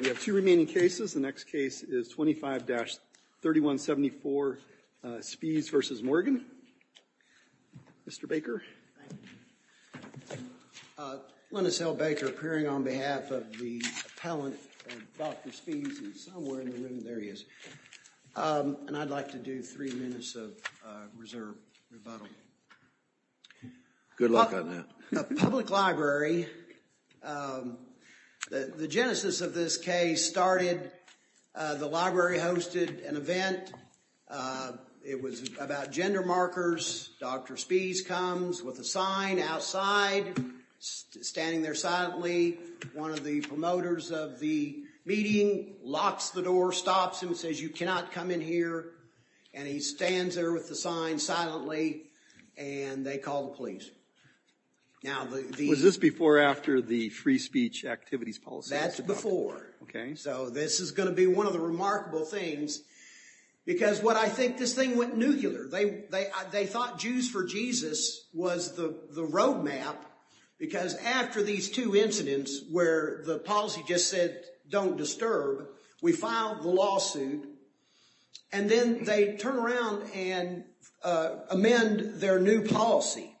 We have two remaining cases. The next case is 25-3174, Spiehs v. Morgan. Mr. Baker. Thank you. Linus L. Baker, appearing on behalf of the appellant, Dr. Spiehs, is somewhere in the room. There he is. And I'd like to do three minutes of reserve rebuttal. Good luck on that. A public library. The genesis of this case started, the library hosted an event. It was about gender markers. Dr. Spiehs comes with a sign outside, standing there silently. One of the promoters of the meeting locks the door, stops him, says you cannot come in here. And he stands there with the sign silently, and they call the police. Was this before or after the free speech activities policy? That's before. Okay. So this is going to be one of the remarkable things. Because what I think, this thing went nuclear. They thought Jews for Jesus was the roadmap, because after these two incidents where the policy just said don't disturb, we filed the lawsuit. And then they turn around and amend their new policy.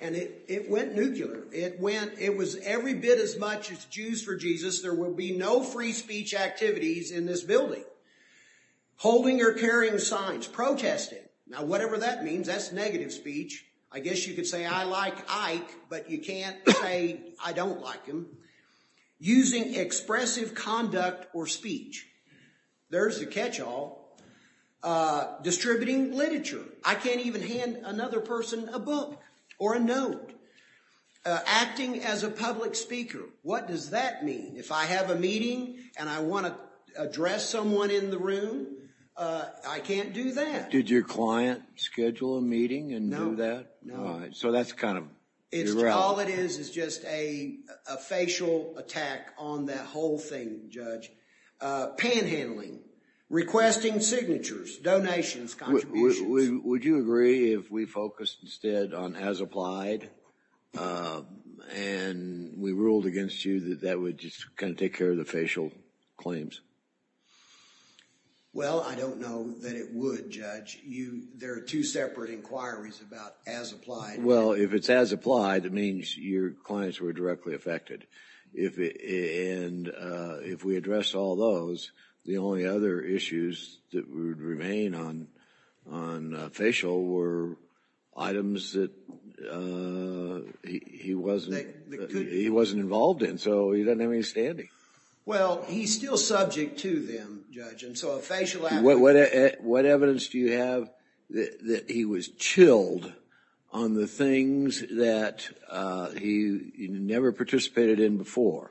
And it went nuclear. It went, it was every bit as much as Jews for Jesus, there will be no free speech activities in this building. Holding or carrying signs, protesting. Now whatever that means, that's negative speech. I guess you could say I like Ike, but you can't say I don't like him. Using expressive conduct or speech. There's the catch all. Distributing literature. I can't even hand another person a book or a note. Acting as a public speaker. What does that mean? If I have a meeting and I want to address someone in the room, I can't do that. Did your client schedule a meeting and do that? So that's kind of irrelevant. All it is is just a facial attack on that whole thing, Judge. Panhandling. Requesting signatures, donations, contributions. Would you agree if we focused instead on as applied and we ruled against you that that would just kind of take care of the facial claims? Well, I don't know that it would, Judge. There are two separate inquiries about as applied. Well, if it's as applied, it means your clients were directly affected. And if we address all those, the only other issues that would remain on facial were items that he wasn't involved in. So he doesn't have any standing. Well, he's still subject to them, Judge. What evidence do you have that he was chilled on the things that he never participated in before?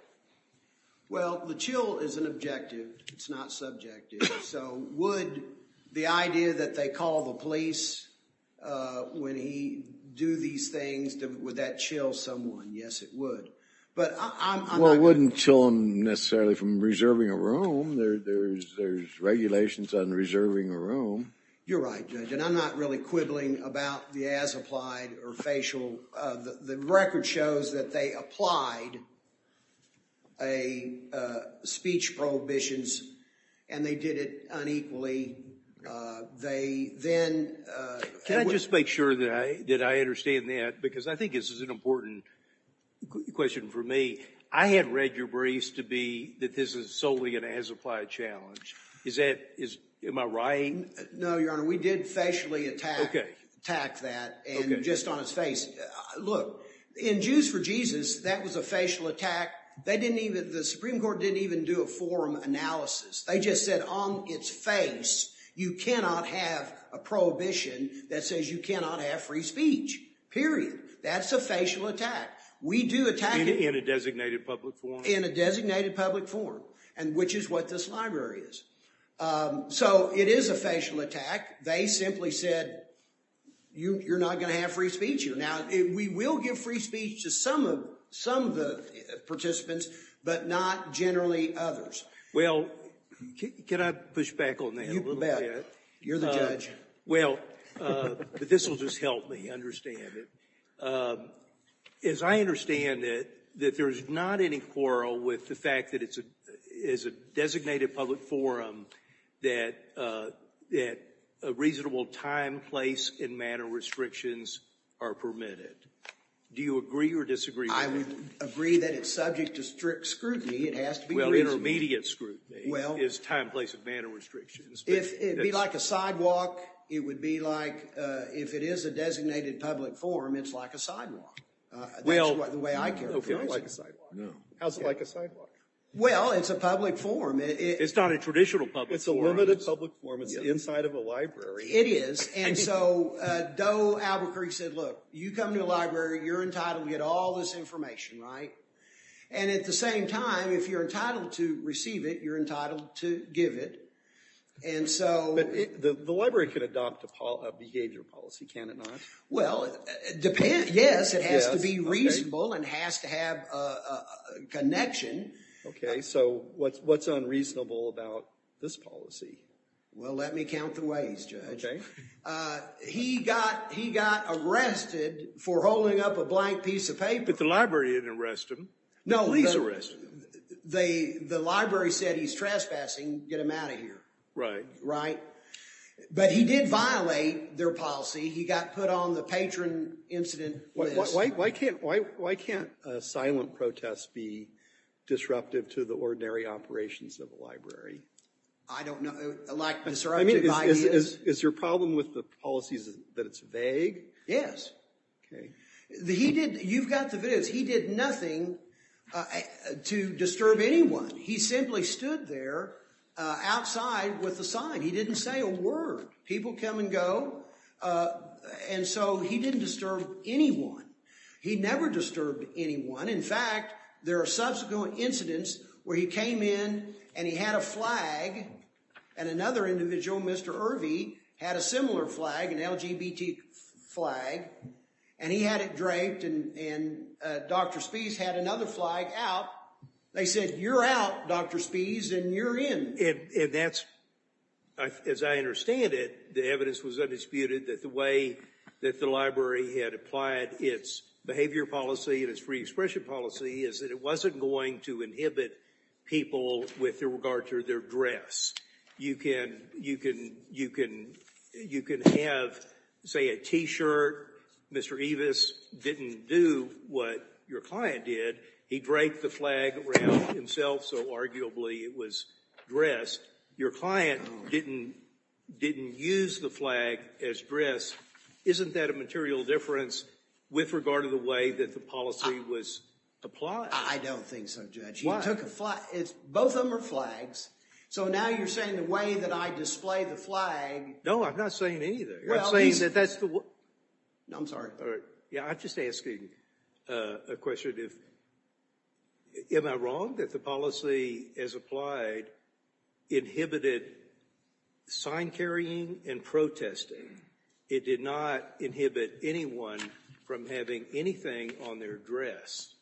Well, the chill is an objective. It's not subjective. So would the idea that they call the police when he do these things, would that chill someone? Yes, it would. Well, it wouldn't chill him necessarily from reserving a room. There's regulations on reserving a room. You're right, Judge. And I'm not really quibbling about the as applied or facial. The record shows that they applied a speech prohibitions and they did it unequally. Can I just make sure that I understand that? Because I think this is an important question for me. I had read your briefs to be that this is solely an as applied challenge. Am I right? No, Your Honor. We did facially attack that and just on his face. Look, in Jews for Jesus, that was a facial attack. The Supreme Court didn't even do a forum analysis. They just said on its face, you cannot have a prohibition that says you cannot have free speech, period. That's a facial attack. In a designated public forum? In a designated public forum, which is what this library is. So it is a facial attack. They simply said, you're not going to have free speech here. Now, we will give free speech to some of the participants, but not generally others. Well, can I push back on that a little bit? You bet. You're the judge. Well, but this will just help me understand it. As I understand it, that there's not any quarrel with the fact that it's a designated public forum, that a reasonable time, place, and manner restrictions are permitted. Do you agree or disagree? I would agree that it's subject to strict scrutiny. Well, intermediate scrutiny is time, place, and manner restrictions. It would be like a sidewalk. It would be like, if it is a designated public forum, it's like a sidewalk. That's the way I characterize it. How's it like a sidewalk? Well, it's a public forum. It's not a traditional public forum. It's a limited public forum. It's inside of a library. It is, and so Doe Albuquerque said, look, you come to the library, you're entitled to get all this information, right? And at the same time, if you're entitled to receive it, you're entitled to give it, and so But the library can adopt a behavior policy, can it not? Well, yes, it has to be reasonable and has to have a connection. Okay, so what's unreasonable about this policy? Well, let me count the ways, Judge. Okay. He got arrested for holding up a blank piece of paper. But the library didn't arrest him. No, the library said he's trespassing, get him out of here. Right. Right. But he did violate their policy. He got put on the patron incident list. Why can't silent protests be disruptive to the ordinary operations of a library? I don't know, like disruptive ideas? Is your problem with the policies that it's vague? Yes. Okay. You've got the videos. He did nothing to disturb anyone. He simply stood there outside with a sign. He didn't say a word. People come and go. And so he didn't disturb anyone. He never disturbed anyone. In fact, there are subsequent incidents where he came in and he had a flag. And another individual, Mr. Irvey, had a similar flag, an LGBT flag. And he had it draped and Dr. Spies had another flag out. They said, you're out, Dr. Spies, and you're in. And that's, as I understand it, the evidence was undisputed that the way that the library had applied its behavior policy and its free expression policy is that it wasn't going to inhibit people with regard to their dress. You can have, say, a t-shirt. Mr. Evis didn't do what your client did. He draped the flag around himself, so arguably it was dress. Your client didn't use the flag as dress. Isn't that a material difference with regard to the way that the policy was applied? I don't think so, Judge. Why? You took a flag. Both of them are flags. So now you're saying the way that I display the flag. No, I'm not saying any of that. I'm saying that that's the way. No, I'm sorry. Yeah, I'm just asking a question. Am I wrong that the policy as applied inhibited sign carrying and protesting? It did not inhibit anyone from having anything on their dress.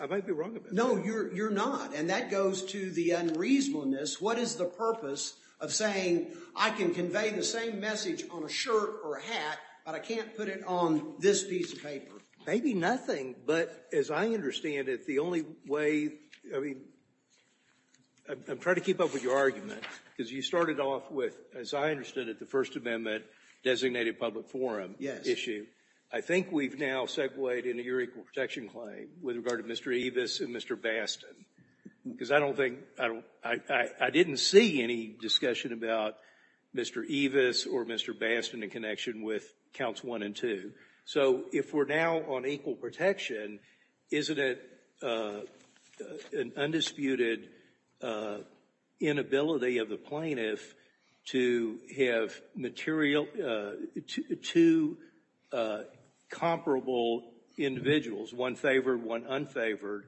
I might be wrong about that. No, you're not, and that goes to the unreasonableness. What is the purpose of saying I can convey the same message on a shirt or a hat, but I can't put it on this piece of paper? Maybe nothing, but as I understand it, the only way, I mean, I'm trying to keep up with your argument, because you started off with, as I understood it, the First Amendment designated public forum issue. I think we've now segued into your equal protection claim with regard to Mr. Evis and Mr. Bastin, because I don't think, I didn't see any discussion about Mr. Evis or Mr. Bastin in connection with counts one and two. So if we're now on equal protection, isn't it an undisputed inability of the plaintiff to have two comparable individuals, one favored, one unfavored,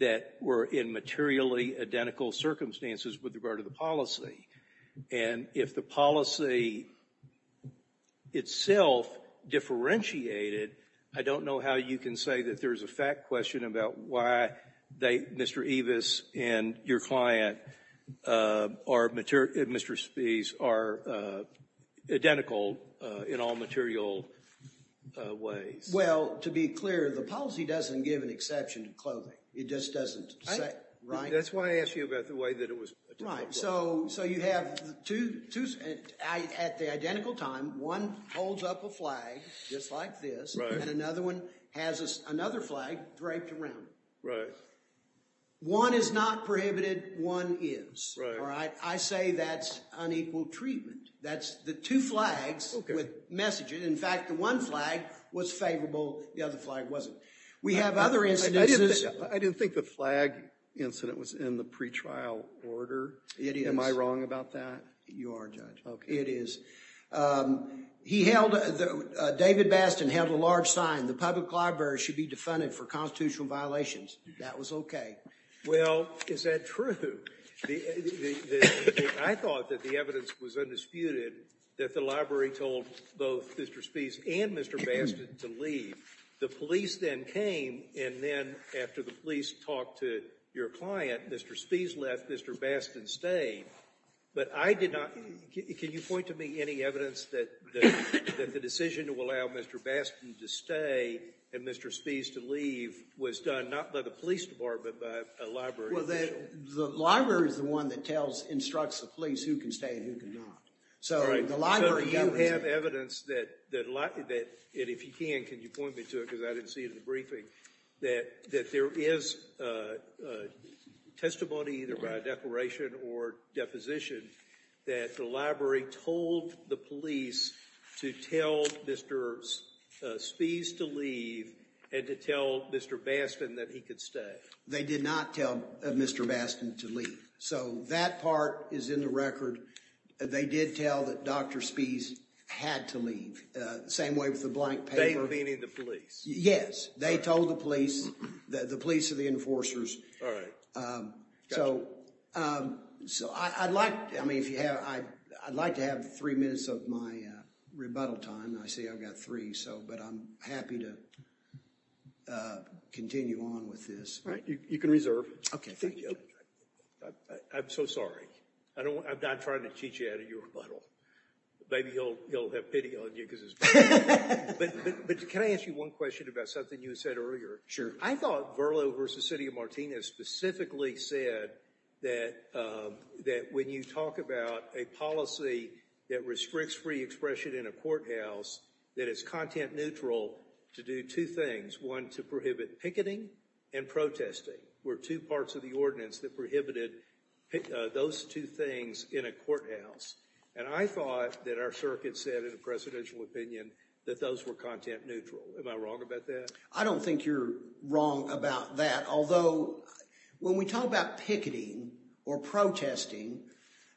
that were in materially identical circumstances with regard to the policy? And if the policy itself differentiated, I don't know how you can say that there's a fact question about why they, Mr. Evis and your client are, Mr. Spies, are identical in all material ways. Well, to be clear, the policy doesn't give an exception to clothing. It just doesn't say, right? That's why I asked you about the way that it was. Right. So you have two at the identical time. One holds up a flag just like this, and another one has another flag draped around it. Right. One is not prohibited. One is. Right. I say that's unequal treatment. That's the two flags with messages. In fact, the one flag was favorable. The other flag wasn't. We have other instances. I didn't think the flag incident was in the pretrial order. It is. Am I wrong about that? You are, Judge. Okay. It is. He held, David Bastin held a large sign, the public library should be defunded for constitutional violations. That was okay. Well, is that true? I thought that the evidence was undisputed that the library told both Mr. Spies and Mr. Bastin to leave. The police then came, and then after the police talked to your client, Mr. Spies left, Mr. Bastin stayed. But I did not, can you point to me any evidence that the decision to allow Mr. Bastin to stay and Mr. Spies to leave was done not by the police department, but by a library official? Well, the library is the one that tells, instructs the police who can stay and who cannot. So the library governs it. I have evidence that, and if you can, can you point me to it because I didn't see it in the briefing, that there is testimony either by declaration or deposition that the library told the police to tell Mr. Spies to leave and to tell Mr. Bastin that he could stay. They did not tell Mr. Bastin to leave. So that part is in the record. They did tell that Dr. Spies had to leave, the same way with the blank paper. They convening the police? Yes. They told the police, the police and the enforcers. All right. So I'd like to have three minutes of my rebuttal time. I see I've got three, but I'm happy to continue on with this. All right. You can reserve. Okay, thank you. I'm so sorry. I'm not trying to cheat you out of your rebuttal. Maybe he'll have pity on you because it's better. But can I ask you one question about something you said earlier? Sure. I thought Verlo versus City of Martina specifically said that when you talk about a policy that restricts free expression in a courthouse, that it's content neutral to do two things. One, to prohibit picketing and protesting. Where two parts of the ordinance that prohibited those two things in a courthouse. And I thought that our circuit said in a presidential opinion that those were content neutral. Am I wrong about that? I don't think you're wrong about that. Although, when we talk about picketing or protesting,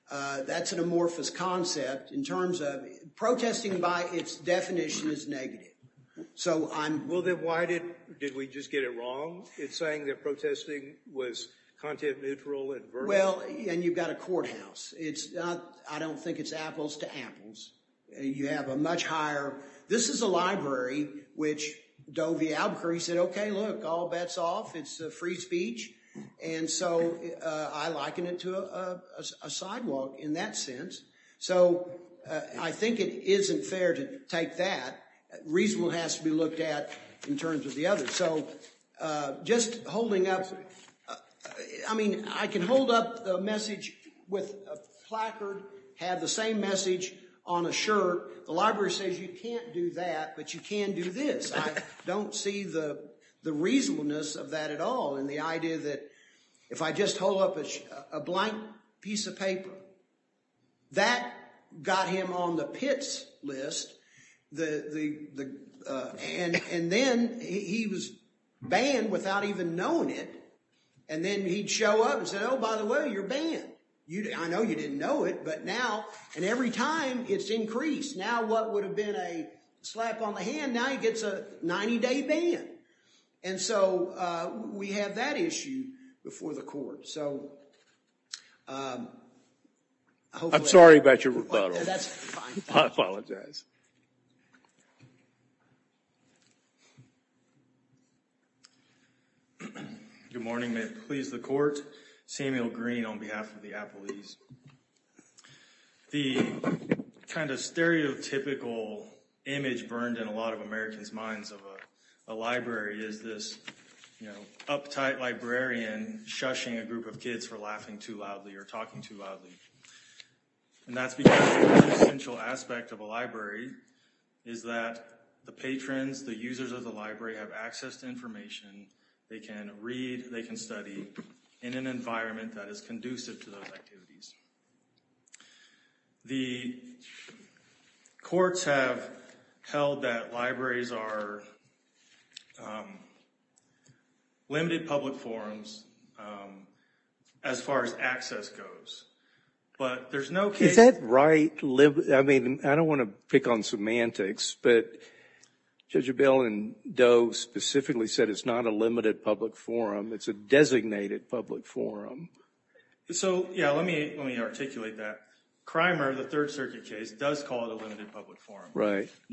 that's an amorphous concept in terms of protesting by its definition is negative. Well, then why did we just get it wrong in saying that protesting was content neutral? Well, and you've got a courthouse. I don't think it's apples to apples. You have a much higher… This is a library, which Doe v. Albuquerque said, okay, look, all bets off. It's free speech. And so I liken it to a sidewalk in that sense. So I think it isn't fair to take that. Reasonable has to be looked at in terms of the other. So just holding up, I mean, I can hold up a message with a placard, have the same message on a shirt. The library says you can't do that, but you can do this. I don't see the reasonableness of that at all. And the idea that if I just hold up a blank piece of paper, that got him on the pits list. And then he was banned without even knowing it. And then he'd show up and say, oh, by the way, you're banned. I know you didn't know it, but now… And every time it's increased. Now what would have been a slap on the hand, now he gets a 90-day ban. And so we have that issue before the court. So hopefully… I'm sorry about your rebuttal. That's fine. I apologize. Good morning. May it please the court. Samuel Green on behalf of the Apple East. The kind of stereotypical image burned in a lot of Americans' minds of a library is this uptight librarian shushing a group of kids for laughing too loudly or talking too loudly. And that's because the essential aspect of a library is that the patrons, the users of the library, have access to information. They can read. They can study in an environment that is conducive to those activities. The courts have held that libraries are limited public forums as far as access goes. But there's no case… Is that right? I mean, I don't want to pick on semantics, but Judge Abell and Doe specifically said it's not a limited public forum. It's a designated public forum. So, yeah, let me articulate that. Crimer, the Third Circuit case, does call it a limited public forum.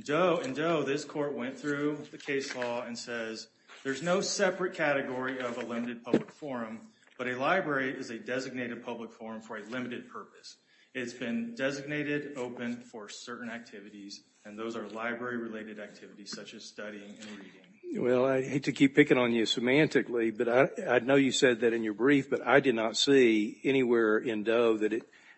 Doe and Doe, this court went through the case law and says there's no separate category of a limited public forum, but a library is a designated public forum for a limited purpose. It's been designated open for certain activities, and those are library-related activities such as studying and reading. Well, I hate to keep picking on you semantically, but I know you said that in your brief, but I did not see anywhere in Doe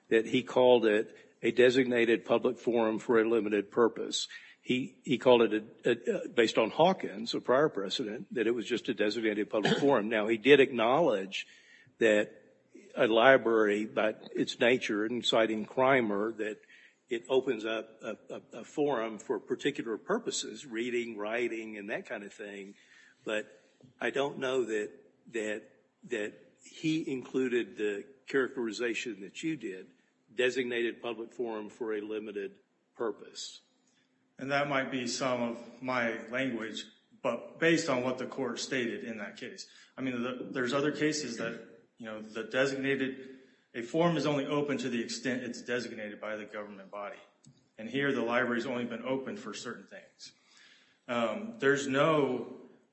that he called it a designated public forum for a limited purpose. He called it, based on Hawkins, a prior precedent, that it was just a designated public forum. Now, he did acknowledge that a library, by its nature, inciting crimer, that it opens up a forum for particular purposes, reading, writing, and that kind of thing. But I don't know that he included the characterization that you did, designated public forum for a limited purpose. And that might be some of my language, but based on what the court stated in that case. I mean, there's other cases that, you know, the designated, a forum is only open to the extent it's designated by the government body. And here, the library's only been open for certain things. There's no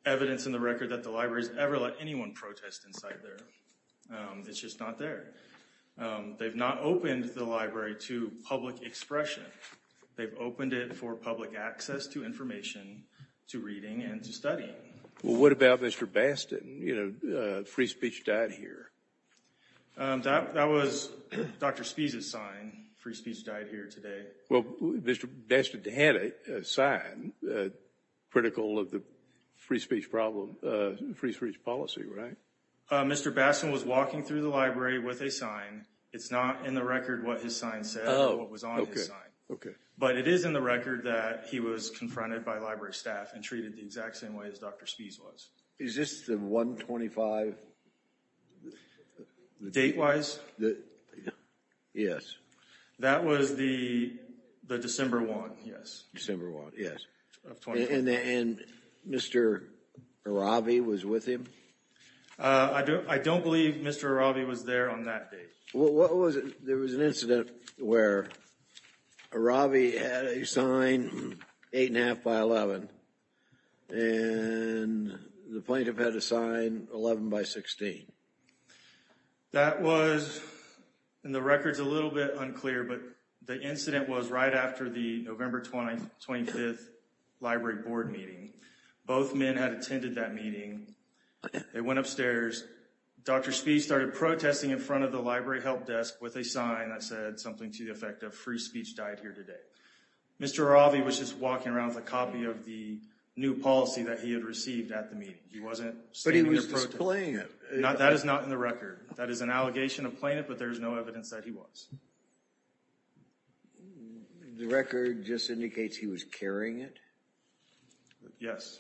evidence in the record that the library's ever let anyone protest inside there. It's just not there. They've not opened the library to public expression. They've opened it for public access to information, to reading, and to studying. Well, what about Mr. Bastin? You know, free speech died here. That was Dr. Spee's sign. Free speech died here today. Well, Mr. Bastin had a sign, critical of the free speech policy, right? Mr. Bastin was walking through the library with a sign. It's not in the record what his sign said or what was on his sign. Okay. But it is in the record that he was confronted by library staff and treated the exact same way as Dr. Spee's was. Is this the 125? Date-wise? Yes. That was the December 1, yes. December 1, yes. And Mr. Aravi was with him? I don't believe Mr. Aravi was there on that date. There was an incident where Aravi had a sign 8 1⁄2 by 11, and the plaintiff had a sign 11 by 16. That was in the records a little bit unclear, but the incident was right after the November 25th library board meeting. Both men had attended that meeting. They went upstairs. Dr. Spee started protesting in front of the library help desk with a sign that said something to the effect of free speech died here today. Mr. Aravi was just walking around with a copy of the new policy that he had received at the meeting. He wasn't standing there protesting. But he was displaying it. That is not in the record. That is an allegation of plaintiff, but there is no evidence that he was. The record just indicates he was carrying it? Yes.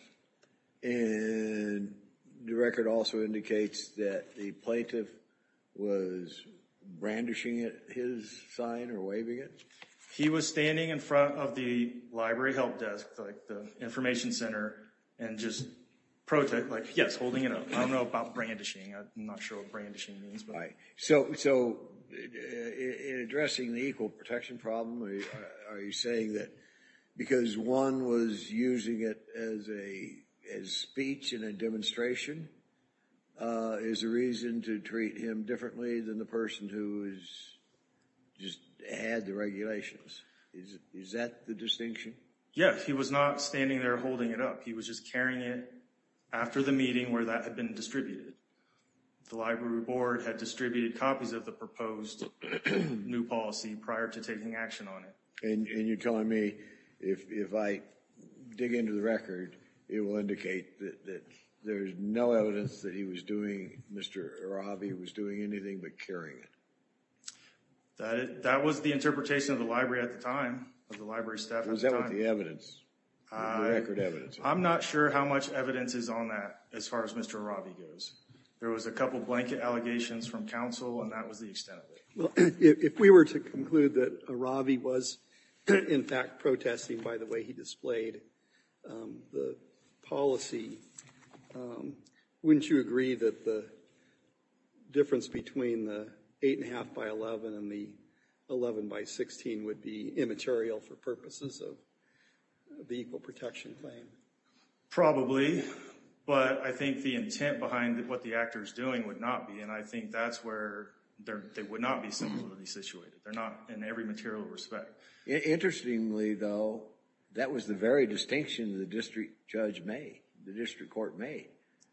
And the record also indicates that the plaintiff was brandishing his sign or waving it? He was standing in front of the library help desk, the information center, and just holding it up. I don't know about brandishing. I'm not sure what brandishing means. So in addressing the equal protection problem, are you saying that because one was using it as speech in a demonstration is a reason to treat him differently than the person who just had the regulations? Is that the distinction? Yes. He was not standing there holding it up. He was just carrying it after the meeting where that had been distributed. The library board had distributed copies of the proposed new policy prior to taking action on it. And you're telling me if I dig into the record, it will indicate that there's no evidence that he was doing, Mr. Aravi, was doing anything but carrying it? That was the interpretation of the library at the time, of the library staff at the time. Was that what the evidence, the record evidence was? I'm not sure how much evidence is on that as far as Mr. Aravi goes. There was a couple of blanket allegations from counsel, and that was the extent of it. Well, if we were to conclude that Aravi was, in fact, protesting by the way he displayed the policy, wouldn't you agree that the difference between the eight and a half by 11 and the 11 by 16 would be immaterial for purposes of the equal protection claim? Probably. But I think the intent behind what the actor is doing would not be, and I think that's where they would not be similarly situated. They're not in every material respect. Interestingly, though, that was the very distinction the district judge made, the district court made,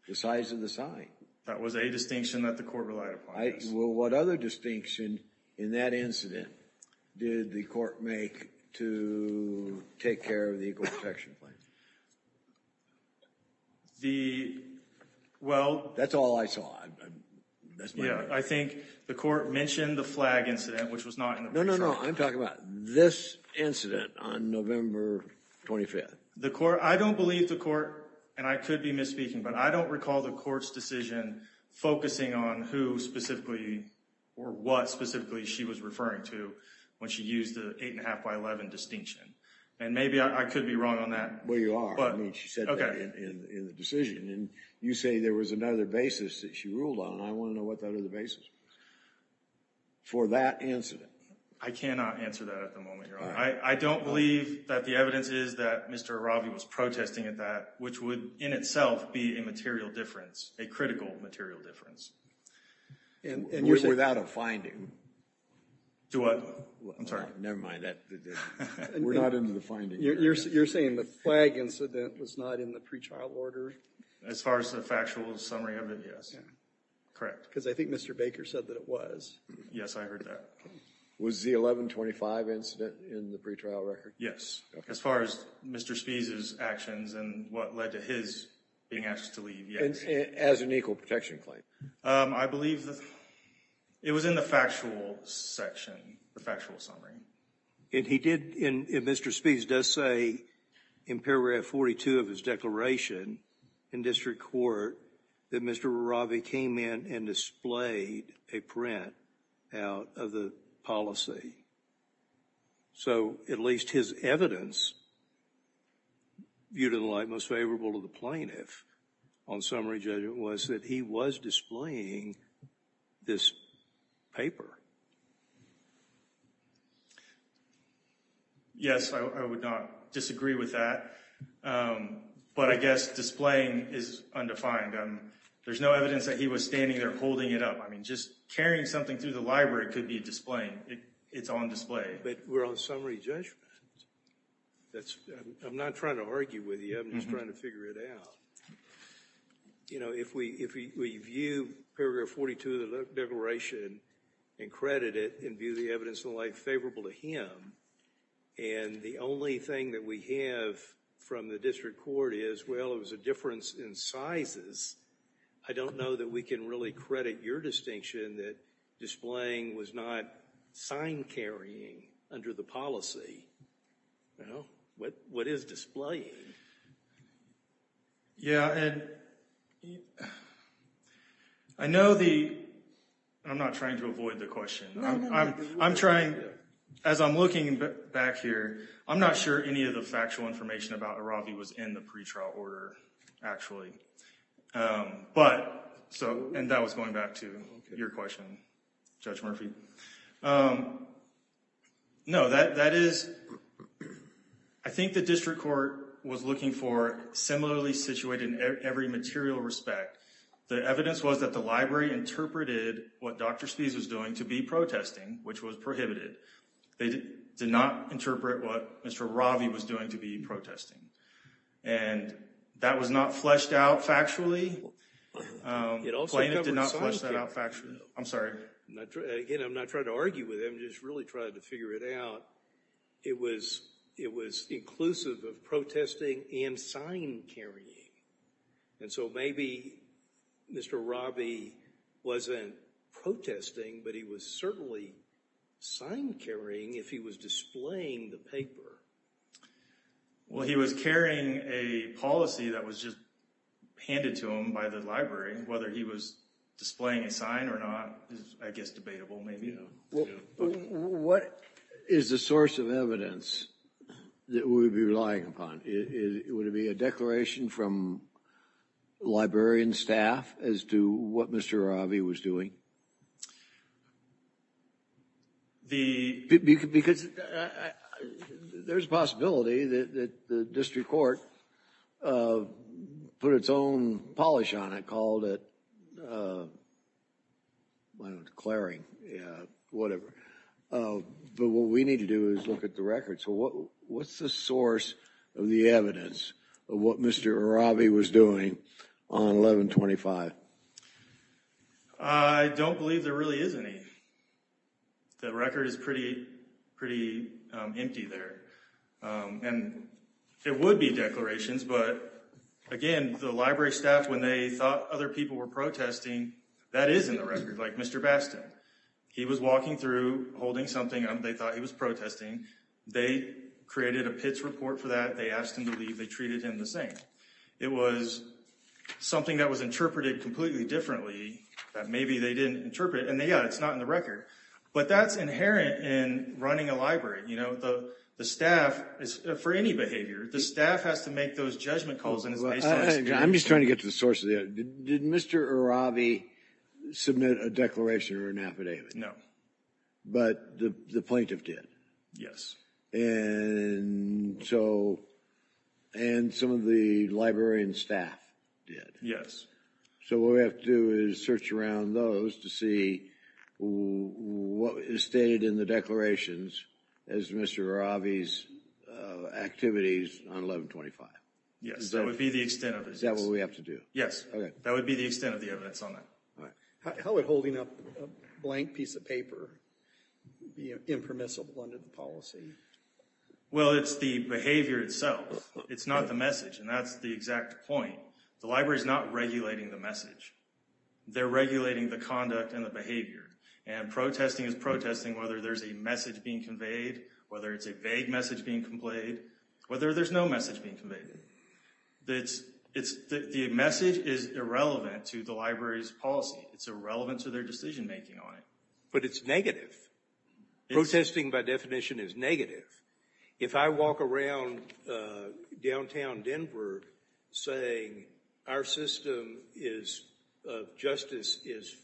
the size of the sign. That was a distinction that the court relied upon. Well, what other distinction in that incident did the court make to take care of the equal protection claim? That's all I saw. I think the court mentioned the flag incident, which was not in the motion. No, no, no. I'm talking about this incident on November 25th. I don't believe the court, and I could be misspeaking, but I don't recall the court's decision focusing on who specifically or what specifically she was referring to when she used the eight and a half by 11 distinction. And maybe I could be wrong on that. Well, you are. She said that in the decision. And you say there was another basis that she ruled on. I want to know what that other basis was for that incident. I cannot answer that at the moment, Your Honor. I don't believe that the evidence is that Mr. Aravi was protesting at that, which would in itself be a material difference, a critical material difference. Without a finding. To what? I'm sorry. Never mind. We're not into the finding. You're saying the flag incident was not in the pre-trial order? As far as the factual summary of it, yes. Correct. Because I think Mr. Baker said that it was. Yes, I heard that. Was the 1125 incident in the pre-trial record? Yes. As far as Mr. Spee's actions and what led to his being asked to leave. As an equal protection claim. I believe it was in the factual section, the factual summary. And he did, and Mr. Spee does say in paragraph 42 of his declaration in district court that Mr. Aravi came in and displayed a print out of the policy. So at least his evidence viewed in the light most favorable to the plaintiff on summary judgment was that he was displaying this paper. Yes, I would not disagree with that. But I guess displaying is undefined. There's no evidence that he was standing there holding it up. I mean, just carrying something through the library could be displaying. It's on display. But we're on summary judgment. I'm not trying to argue with you. I'm just trying to figure it out. You know, if we view paragraph 42 of the declaration and credit it and view the evidence in the light favorable to him, and the only thing that we have from the district court is, well, it was a difference in sizes. I don't know that we can really credit your distinction that displaying was not sign carrying under the policy. You know, what is displaying? Yeah, and I know the, I'm not trying to avoid the question. I'm trying, as I'm looking back here, I'm not sure any of the factual information about Aravi was in the pretrial order, actually. But, so, and that was going back to your question, Judge Murphy. No, that is, I think the district court was looking for similarly situated in every material respect. The evidence was that the library interpreted what Dr. Spies was doing to be protesting, which was prohibited. They did not interpret what Mr. Aravi was doing to be protesting. And that was not fleshed out factually. Plaintiff did not flesh that out factually. I'm sorry. Again, I'm not trying to argue with him. I'm just really trying to figure it out. It was inclusive of protesting and sign carrying. And so maybe Mr. Aravi wasn't protesting, but he was certainly sign carrying if he was displaying the paper. Well, he was carrying a policy that was just handed to him by the library. Whether he was displaying a sign or not is, I guess, debatable. What is the source of evidence that we would be relying upon? Would it be a declaration from librarian staff as to what Mr. Aravi was doing? Because there's a possibility that the district court put its own polish on it, called it declaring, whatever. But what we need to do is look at the record. So what's the source of the evidence of what Mr. Aravi was doing on 11-25? I don't believe there really is any. The record is pretty empty there. And there would be declarations, but again, the library staff, when they thought other people were protesting, that is in the record, like Mr. Bastin. He was walking through, holding something, and they thought he was protesting. They created a PITS report for that. They asked him to leave. They treated him the same. It was something that was interpreted completely differently that maybe they didn't interpret. And yeah, it's not in the record. But that's inherent in running a library. You know, the staff, for any behavior, the staff has to make those judgment calls. I'm just trying to get to the source of it. Did Mr. Aravi submit a declaration or an affidavit? But the plaintiff did. And so, and some of the librarian staff did. Yes. So what we have to do is search around those to see what is stated in the declarations as Mr. Aravi's activities on 11-25. Yes, that would be the extent of it. Is that what we have to do? Yes. That would be the extent of the evidence on that. How would holding up a blank piece of paper be impermissible under the policy? Well, it's the behavior itself. It's not the message. And that's the exact point. The library is not regulating the message. They're regulating the conduct and the behavior. And protesting is protesting whether there's a message being conveyed, whether it's a vague message being conveyed, whether there's no message being conveyed. The message is irrelevant to the library's policy. It's irrelevant to their decision making on it. But it's negative. Protesting by definition is negative. If I walk around downtown Denver saying our system of justice is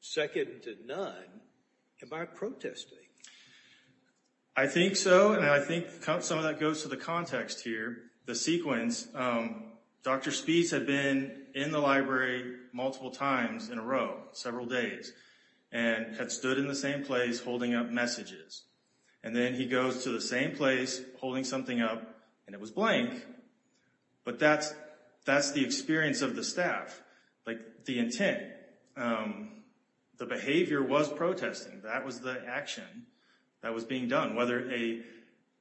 second to none, am I protesting? I think so. And I think some of that goes to the context here, the sequence. Dr. Speece had been in the library multiple times in a row, several days, and had stood in the same place holding up messages. And then he goes to the same place holding something up, and it was blank. But that's the experience of the staff, like the intent. The behavior was protesting. That was the action that was being done. Whether a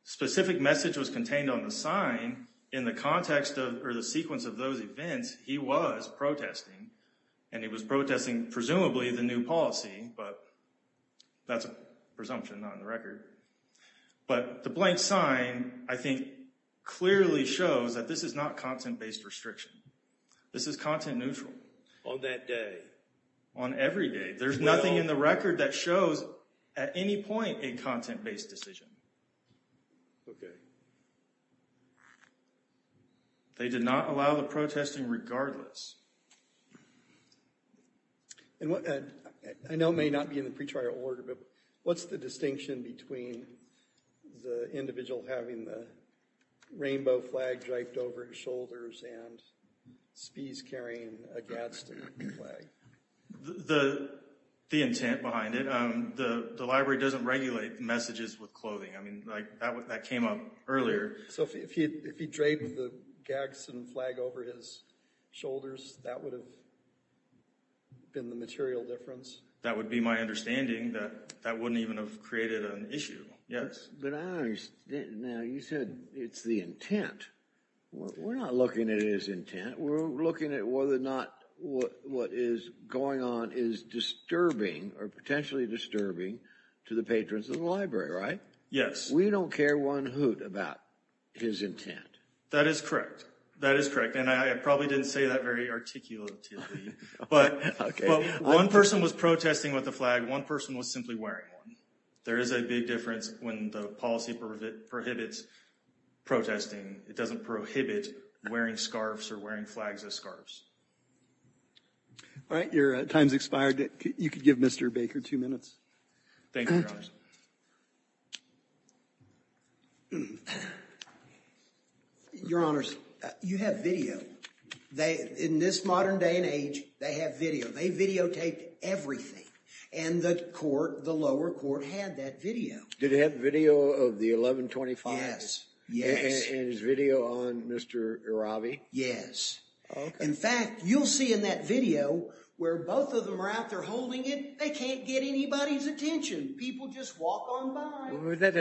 specific message was contained on the sign in the context or the sequence of those events, he was protesting. And he was protesting, presumably, the new policy. But that's a presumption, not on the record. But the blank sign, I think, clearly shows that this is not content-based restriction. This is content neutral. On that day? On every day. There's nothing in the record that shows, at any point, a content-based decision. Okay. They did not allow the protesting regardless. And I know it may not be in the pretrial order, but what's the distinction between the individual having the rainbow flag driped over his shoulders and Speece carrying a Gadsden flag? The intent behind it. The library doesn't regulate messages with clothing. I mean, that came up earlier. So if he draped the Gadsden flag over his shoulders, that would have been the material difference? That would be my understanding. That wouldn't even have created an issue, yes. But I don't understand. Now, you said it's the intent. We're not looking at it as intent. We're looking at whether or not what is going on is disturbing or potentially disturbing to the patrons of the library, right? Yes. We don't care one hoot about his intent. That is correct. That is correct. And I probably didn't say that very articulatively. But one person was protesting with a flag. One person was simply wearing one. There is a big difference when the policy prohibits protesting. It doesn't prohibit wearing scarves or wearing flags as scarves. All right. Your time's expired. You could give Mr. Baker two minutes. Thank you, Your Honors. Your Honors, you have video. In this modern day and age, they have video. They videotaped everything. And the court, the lower court, had that video. Did it have video of the 1125? Yes. Yes. And is video on Mr. Iravi? Yes. In fact, you'll see in that video where both of them are out there holding it, they can't get anybody's attention. People just walk on by.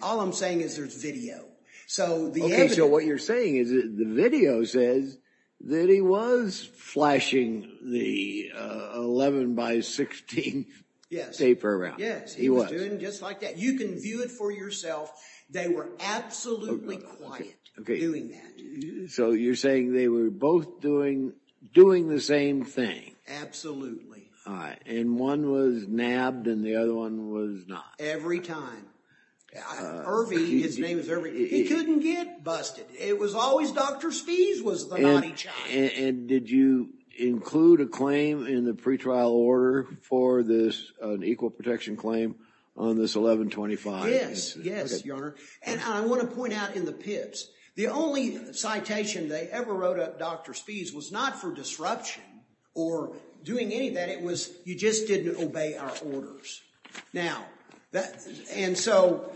All I'm saying is there's video. Okay, so what you're saying is the video says that he was flashing the 11 by 16 tape around. Yes, he was doing just like that. You can view it for yourself. They were absolutely quiet doing that. So you're saying they were both doing the same thing. Absolutely. And one was nabbed and the other one was not. Every time. Iravi, his name is Iravi, he couldn't get busted. It was always Dr. Spies was the naughty child. And did you include a claim in the pretrial order for this, an equal protection claim on this 1125? Yes. Yes, Your Honor. And I want to point out in the PIPs, the only citation they ever wrote up Dr. Spies was not for disruption or doing anything. It was you just didn't obey our orders. Now, and so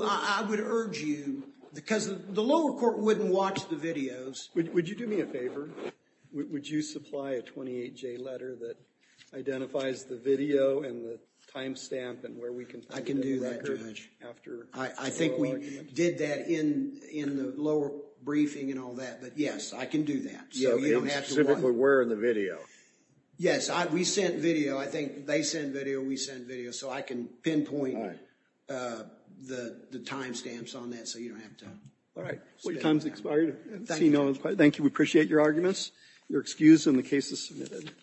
I would urge you, because the lower court wouldn't watch the videos. Would you do me a favor? Would you supply a 28-J letter that identifies the video and the time stamp and where we can put the record? I can do that, Judge. I think we did that in the lower briefing and all that. But yes, I can do that. So you don't have to worry. Specifically where in the video? Yes. We sent video. I think they sent video, we sent video. So I can pinpoint the time stamps on that so you don't have to. All right. Time's expired. Thank you. We appreciate your arguments. You're excused and the case is submitted.